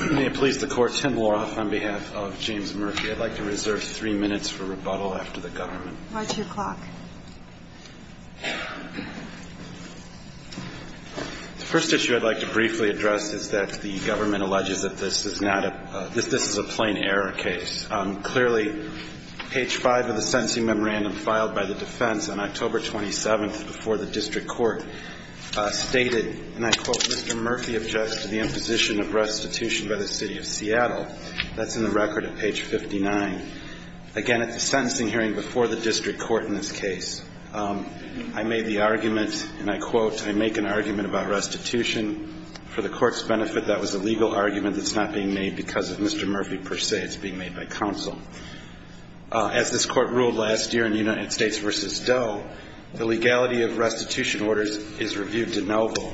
on behalf of James Murphy. I'd like to reserve three minutes for rebuttal after the government. Why two o'clock? The first issue I'd like to briefly address is that the government alleges that this is a plain error case. Clearly, page 5 of the sentencing memorandum filed by the defense on October 27th before the district court stated, and I quote, Mr. Murphy objected to the imposition of restitution by the city of Seattle. That's in the record at page 59. Again, at the sentencing hearing before the district court in this case, I made the argument, and I quote, I make an argument about restitution. For the court's benefit, that was a legal argument that's not being made because of Mr. Murphy per se. It's being made by counsel. As this court ruled last year in United States v. Doe, the legality of restitution orders is reviewed de novo,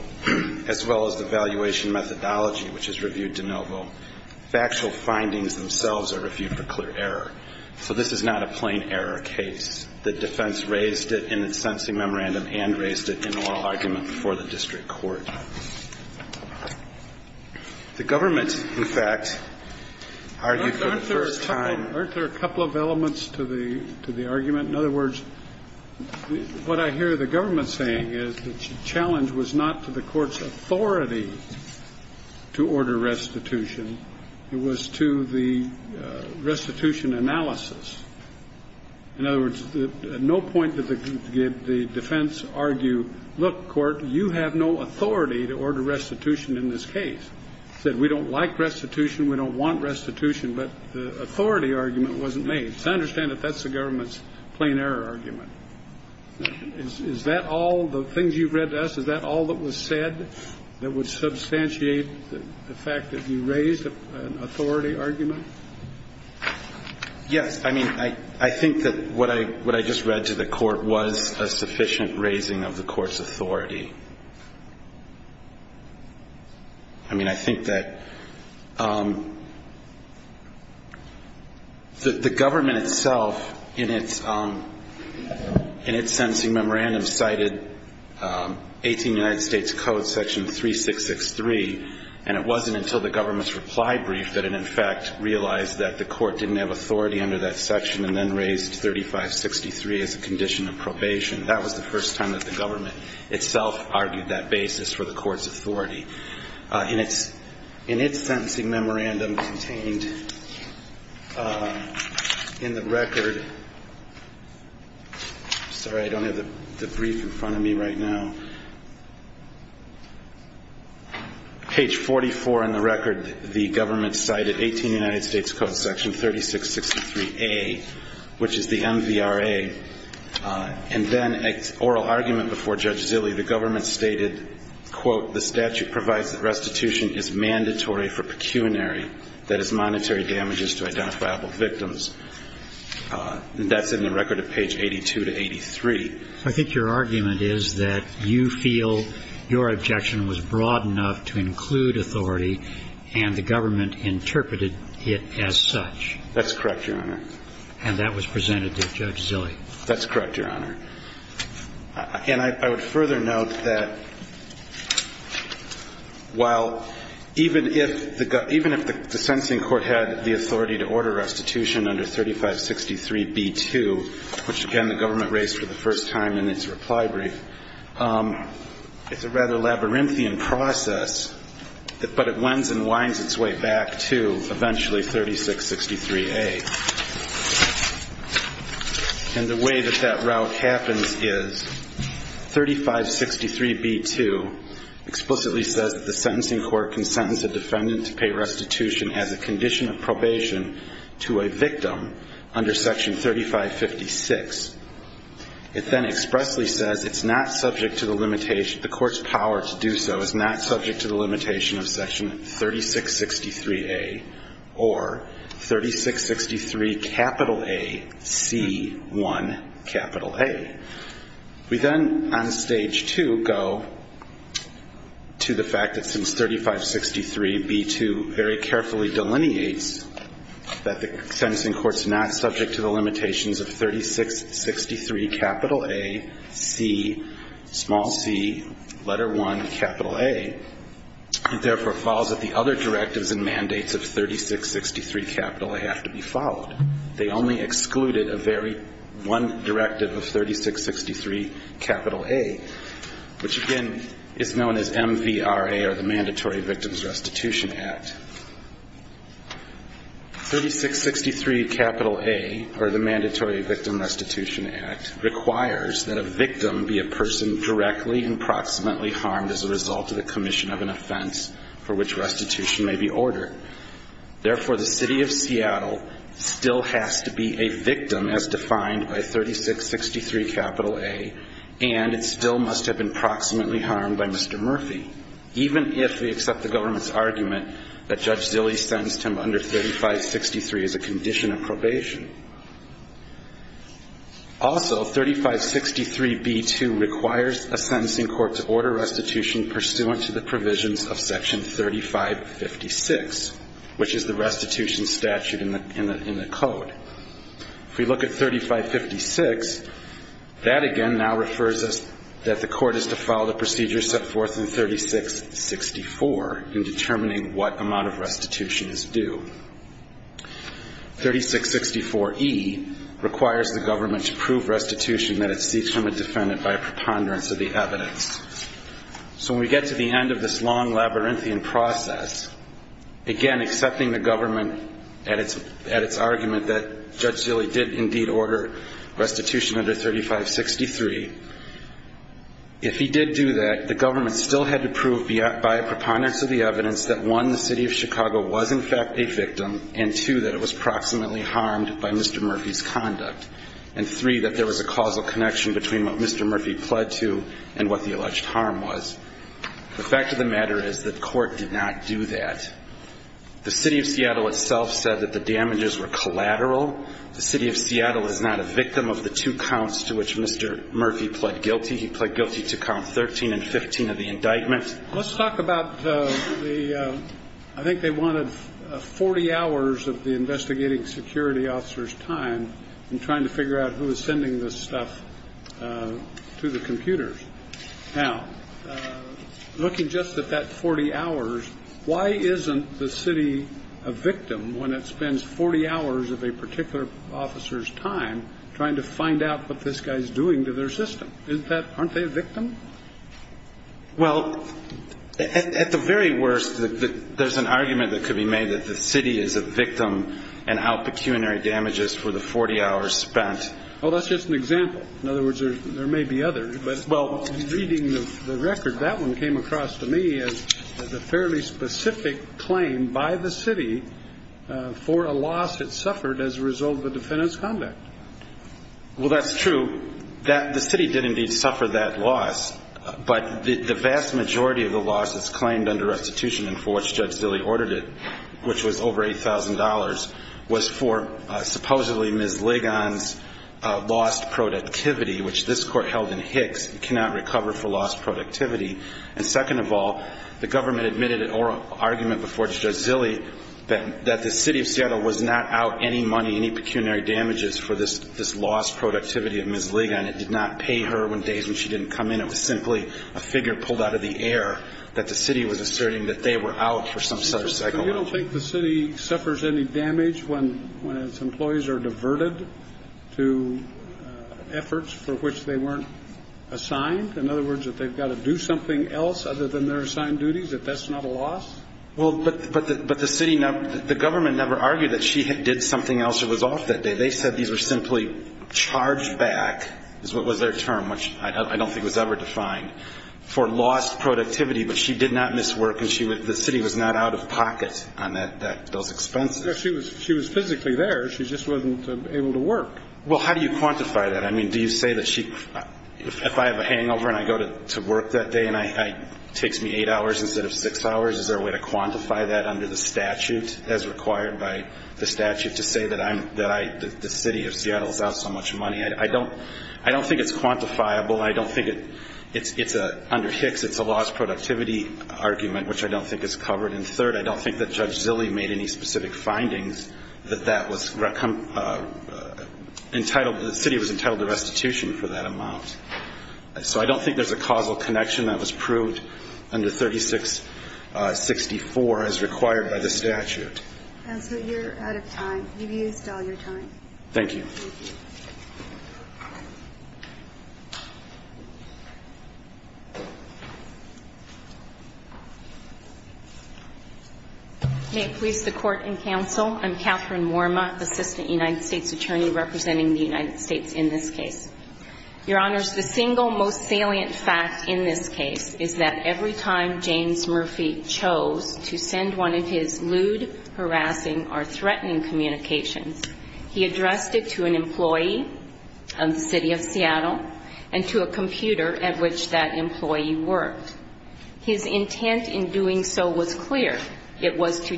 as well as the valuation methodology, which is reviewed de novo. Factual findings themselves are reviewed for clear error. So this is not a plain error case. The defense raised it in its sentencing memorandum and raised it in an oral argument before the district court. The government, in fact, argued for the first time that this is a plain error case. What I hear the government saying is the challenge was not to the court's authority to order restitution. It was to the restitution analysis. In other words, no point did the defense argue, look, court, you have no authority to order restitution in this case. It said we don't like restitution, we don't want restitution, but the authority argument wasn't made. So I understand that that's the government's plain error argument. Is that all, the things you've read to us, is that all that was said that would substantiate the fact that you raised an authority argument? Yes. I mean, I think that what I just read to the court was a sufficient raising of the court's authority. I mean, I think that the court's authority was a sufficient raising of the court's authority. The government itself, in its sentencing memorandum, cited 18 United States Code section 3663, and it wasn't until the government's reply brief that it, in fact, realized that the court didn't have authority under that section and then raised 3563 as a condition of probation. That was the first time that the government itself argued that basis for the court's authority. In its sentencing memorandum contained in the record, sorry, I don't have the brief in front of me right now, page 44 in the record, the government cited 18 United States Code section 3663A, which is the MVRA, and then an oral argument before Judge Zille. The government stated, quote, the statute provides that restitution is mandatory for pecuniary, that is, monetary damages to identifiable victims. And that's in the record of page 82 to 83. I think your argument is that you feel your objection was broad enough to include authority and the government interpreted it as such. That's correct, Your Honor. And that was presented to Judge Zille. That's correct, Your Honor. And I would further note that while even if the sentencing court had the authority to order restitution under 3563b2, which, again, the government raised for the first time in its reply brief, it's a rather labyrinthian process, but it winds and winds its way back to eventually 3663A. And the way that that route happens is 3563b2 explicitly says that the sentencing court can sentence a defendant to pay restitution as a condition of probation to a victim under section 3556. It then goes on to say that the defendant is not subject to the limitation of section 3663A or 3663AC1A. We then, on stage two, go to the fact that since 3563b2 very carefully delineates that the sentencing court's not subject to the limitations of 3663AC, small c, letter 1, capital A, it therefore follows that the other directives and mandates of 3663A have to be followed. They only excluded a very one directive of 3663A, which, again, is known as MVRA or the Mandatory Victims Restitution Act. 3663A or the Mandatory Victims Restitution Act requires that a victim be a person directly and proximately harmed as a result of the commission of an offense for which restitution may be ordered. Therefore, the City of Seattle still has to be a victim, as defined by 3663A, and it still must have been proximately harmed by Mr. Murphy, even if we accept the government's argument that Judge Zille sentenced him under 3563 as a condition of probation. Also, 3563b2 requires a sentencing court to order restitution pursuant to the provisions of section 3556, which is the restitution statute in the code. If we look at 3556, that again now refers us that the court is to follow the 3664 in determining what amount of restitution is due. 3664E requires the government to prove restitution that it seeks from a defendant by preponderance of the evidence. So when we get to the end of this long labyrinthian process, again, accepting the government at its argument that Judge Zille did indeed order restitution under 3563, if he did do that, the government still had to prove by preponderance of the evidence that, one, the City of Chicago was in fact a victim, and, two, that it was proximately harmed by Mr. Murphy's conduct, and, three, that there was a causal connection between what Mr. Murphy pled to and what the alleged harm was. The fact of the matter is that court did not do that. The City of Seattle itself said that the damages were collateral. The City of Seattle is not a victim of the two counts to which Mr. Murphy pled guilty. He pled guilty to count 13 and 15 of the indictment. Let's talk about the ‑‑ I think they wanted 40 hours of the investigating security officer's time in trying to figure out who was sending this stuff to the computers. Now, looking just at that 40 hours, why isn't the city a victim when it spends 40 hours of a particular officer's time trying to find out what this guy is doing to their system? Isn't that ‑‑ aren't they a victim? Well, at the very worst, there's an argument that could be made that the city is a victim and how pecuniary damages for the 40 hours spent. Well, that's just an example. In other words, there may be others. But, well, reading the record, that one came across to me as a fairly specific claim by the city for a loss at which the city suffered as a result of a defendant's conduct. Well, that's true. The city did indeed suffer that loss. But the vast majority of the loss that's claimed under restitution and for which Judge Zille ordered it, which was over $8,000, was for supposedly Ms. Ligon's lost productivity, which this court held in Hicks, cannot recover for lost productivity. And second of all, the government admitted an argument before Judge Zille that the city of Seattle was not out any money, any pecuniary damages for this lost productivity of Ms. Ligon. It did not pay her when days when she didn't come in. It was simply a figure pulled out of the air that the city was asserting that they were out for some psychological reason. So you don't think the city suffers any damage when its employees are diverted to efforts for which they weren't assigned? In other words, that they've got to do something else other than their assigned duties, that that's not a loss? Well, but the city never – the government never argued that she did something else or was off that day. They said these were simply charged back, is what was their term, which I don't think was ever defined, for lost productivity. But she did not miss work, and she would – the city was not out of pocket on that – those expenses. She was physically there. She just wasn't able to work. Well, how do you quantify that? I mean, do you say that she – if I have a hangover and I go to work that day and it takes me eight hours instead of six hours, is there a way to quantify that under the statute as required by the statute to say that I'm – that I – the city of Seattle is out so much money? I don't – I don't think it's quantifiable. I don't think it – it's a – under Hicks, it's a lost productivity argument, which I don't think is covered. And third, I don't think that Judge Zille made any specific findings that that was entitled – the city was entitled to restitution for that amount. So I don't think there's a causal connection that was proved under 3664 as required by the statute. Counsel, you're out of time. You've used all your time. Thank you. Thank you. May it please the Court and counsel, I'm Catherine Worma, Assistant United States Attorney representing the United States in this case. Your Honors, the single most salient fact in this case is that every time James Murphy chose to send one of his lewd, harassing or threatening communications, he addressed it to an employee of the city of Seattle and to a computer at which that employee worked. His intent in doing so was clear. It was to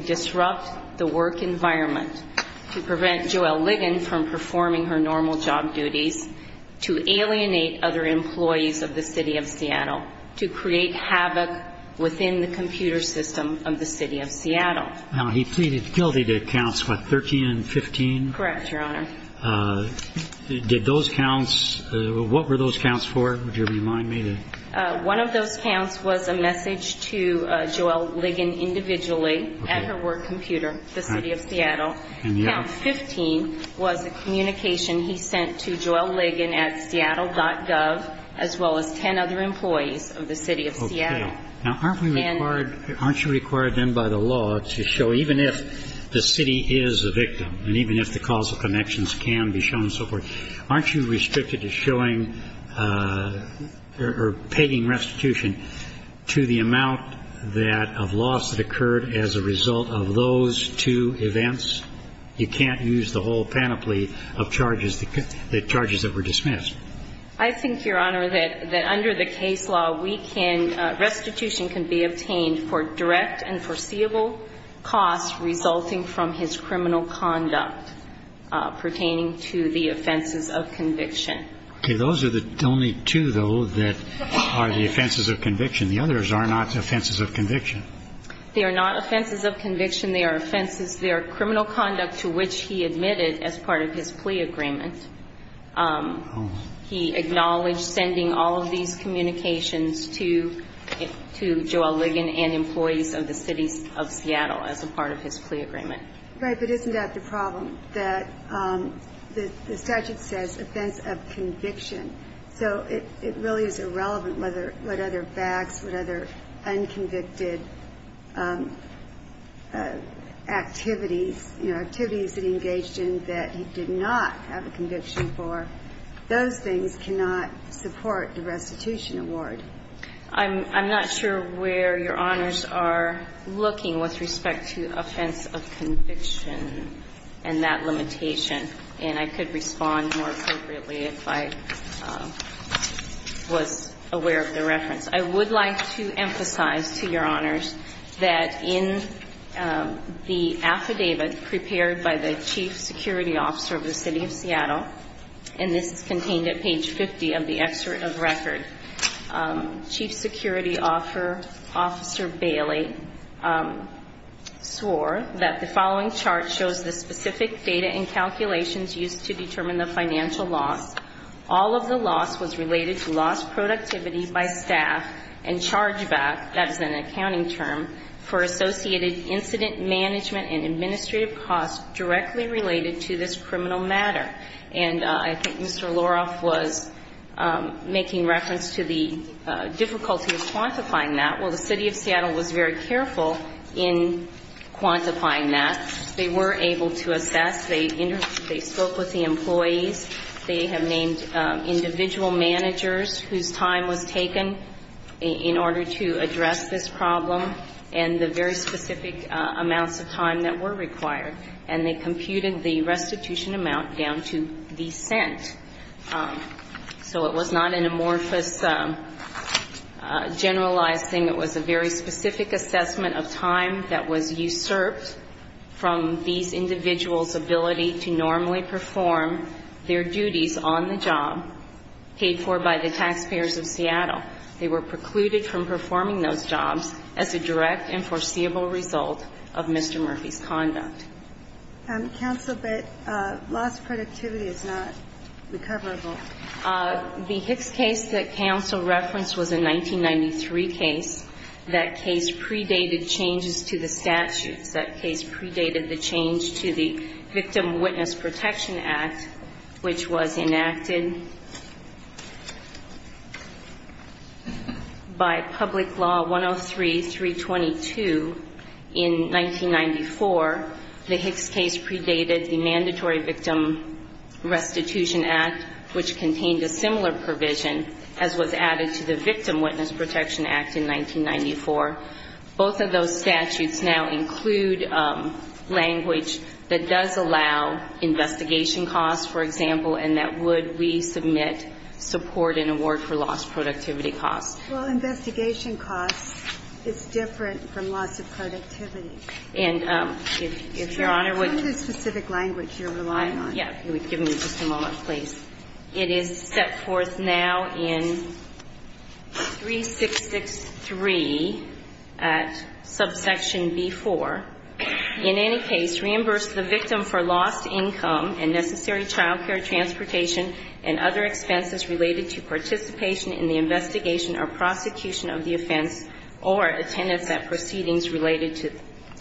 prevent her from performing her normal job duties, to alienate other employees of the city of Seattle, to create havoc within the computer system of the city of Seattle. Now, he pleaded guilty to counts, what, 13 and 15? Correct, Your Honor. Did those counts – what were those counts for? Would you remind me? One of those counts was a message to Joelle Ligon individually at her work computer, the communication he sent to JoelleLigon at Seattle.gov, as well as 10 other employees of the city of Seattle. Okay. Now, aren't we required – aren't you required then by the law to show, even if the city is a victim and even if the causal connections can be shown and so forth, aren't you restricted to showing – or pegging restitution to the amount that – of loss that occurred as a result of those two events? You can't use the whole panoply of charges that were dismissed. I think, Your Honor, that under the case law, we can – restitution can be obtained for direct and foreseeable costs resulting from his criminal conduct pertaining to the offenses of conviction. Okay. Those are the only two, though, that are the offenses of conviction. The others are not offenses of conviction. They are not offenses of conviction. They are offenses – they are criminal conduct to which he admitted as part of his plea agreement. He acknowledged sending all of these communications to Joelle Ligon and employees of the city of Seattle as a part of his plea agreement. Right. But isn't that the problem, that the statute says offense of conviction? So it really is irrelevant whether – what other facts, what other unconvicted activities, you know, activities that he engaged in that he did not have a conviction for. Those things cannot support the restitution award. I'm not sure where Your Honors are looking with respect to offense of conviction and that limitation. And I could respond more appropriately if I was aware of the reference. I would like to emphasize to Your Honors that in the affidavit prepared by the chief security officer of the city of Seattle, and this is contained at page 50 of the excerpt of record, chief security officer Bailey swore that the following chart shows the specific data and calculations used to determine the financial loss. All of the loss was related to lost productivity by staff and chargeback – that is an accounting term – for associated incident management and administrative costs directly related to this criminal matter. And I think Mr. Loroff was making reference to the difficulty of quantifying that. Well, the city of Seattle was very – they were able to assess. They spoke with the employees. They have named individual managers whose time was taken in order to address this problem and the very specific amounts of time that were required. And they computed the restitution amount down to the cent. So it was not an amorphous, generalized thing. It was a very specific assessment of time that was usurped from these individuals' ability to normally perform their duties on the job paid for by the taxpayers of Seattle. They were precluded from performing those jobs as a direct and foreseeable result of Mr. Murphy's conduct. Counsel, but lost productivity is not recoverable. The Hicks case that counsel referenced was a 1993 case. That case predated changes to the statutes. That case predated the change to the Victim Witness Protection Act, which was enacted by Public Law 103-322 in 1994. The Hicks case predated the Mandatory Act, which contained a similar provision as was added to the Victim Witness Protection Act in 1994. Both of those statutes now include language that does allow investigation costs, for example, and that would resubmit support and award for lost productivity costs. Well, investigation costs is different from loss of productivity. And if Your Honor would ---- So what is the specific language you're relying on? Yes. If you would give me just a moment, please. It is set forth now in 3663 at subsection B-4. In any case, reimburse the victim for lost income and necessary child care transportation and other expenses related to participation in the investigation or prosecution of the offense or attendance at proceedings related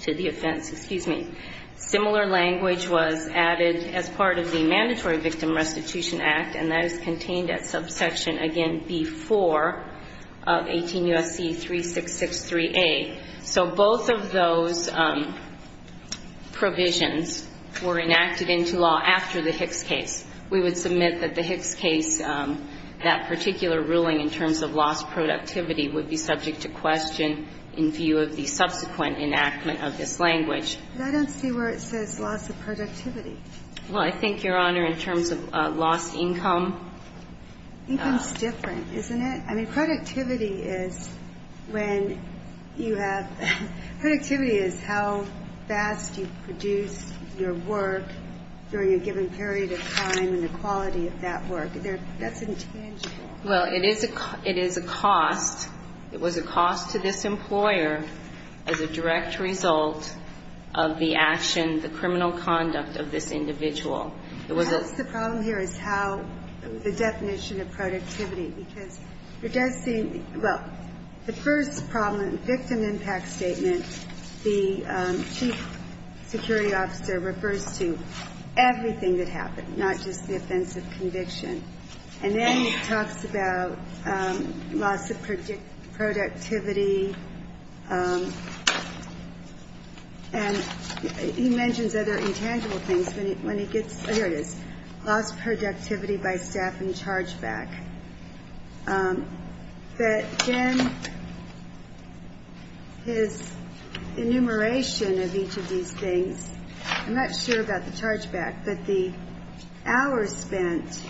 to the offense. Excuse me. Similar language was added as part of the Mandatory Victim Restitution Act, and that is contained at subsection, again, B-4 of 18 U.S.C. 3663A. So both of those provisions were enacted into law after the Hicks case. We would submit that the Hicks case, that particular ruling in terms of lost productivity would be subject to question in view of the subsequent enactment of this language. But I don't see where it says loss of productivity. Well, I think, Your Honor, in terms of lost income ---- Income is different, isn't it? I mean, productivity is when you have ---- productivity is how fast you produce your work during a given period of time and the quality of that work. That's intangible. Well, it is a cost. It was a cost to this employer as a direct result of the action, the criminal conduct of this individual. It was a ---- I guess the problem here is how the definition of productivity, because it does seem ---- well, the first problem, victim impact statement, the chief security officer refers to everything that happened, not just the offense of conviction. And then he talks about loss of productivity. And he mentions other intangible things when he gets ---- here it is, lost productivity by staff and charge back. But then his enumeration of each of these things, and that's why I'm not sure about the charge back, but the hours spent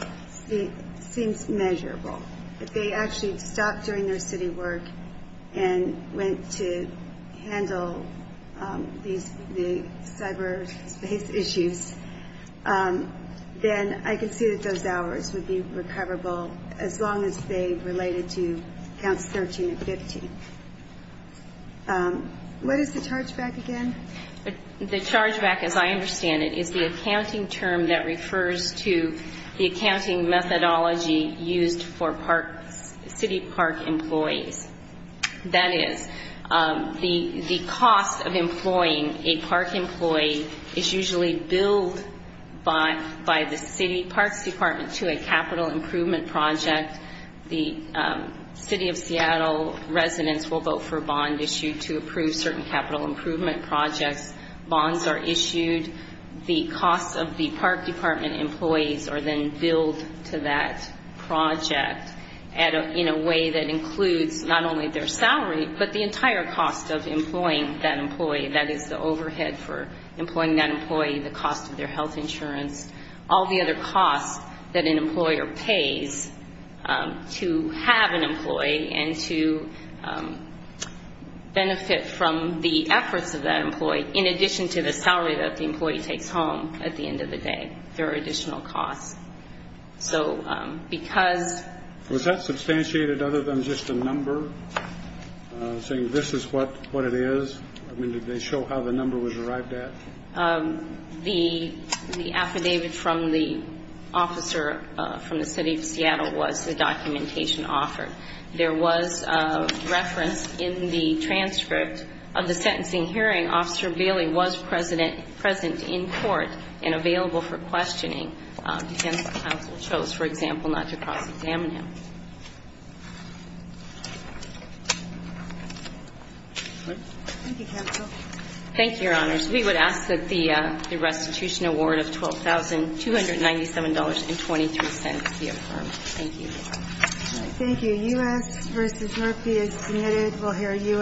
seems measurable. If they actually stopped doing their city work and went to handle these cyber space issues, then I can see that those hours would be recoverable as long as they related to counts 13 and 15. What is the charge back again? The charge back, as I understand it, is the accounting term that refers to the accounting methodology used for city park employees. That is, the cost of employing a park employee is usually billed by the city parks department to a capital improvement project. The city of Seattle residents will vote for a bond issue to approve certain capital improvement projects. Bonds are issued. The costs of the park department employees are then billed to that project in a way that includes not only their salary, but the entire cost of employing that employee. That is, the overhead for employing that employee, the cost of their health insurance, all the other costs that an employer pays to have an employee, in addition to the salary that the employee takes home at the end of the day. Was that substantiated other than just a number, saying this is what it is? I mean, did they show how the number was arrived at? The affidavit from the officer from the city of Seattle was the documentation offered. There was reference in the transcript of the sentencing hearing. Officer Bailey was present in court and available for questioning. Defense counsel chose, for example, not to cross-examine him. Thank you, Your Honors. We would ask that the restitution award of $12,297.23 be presented.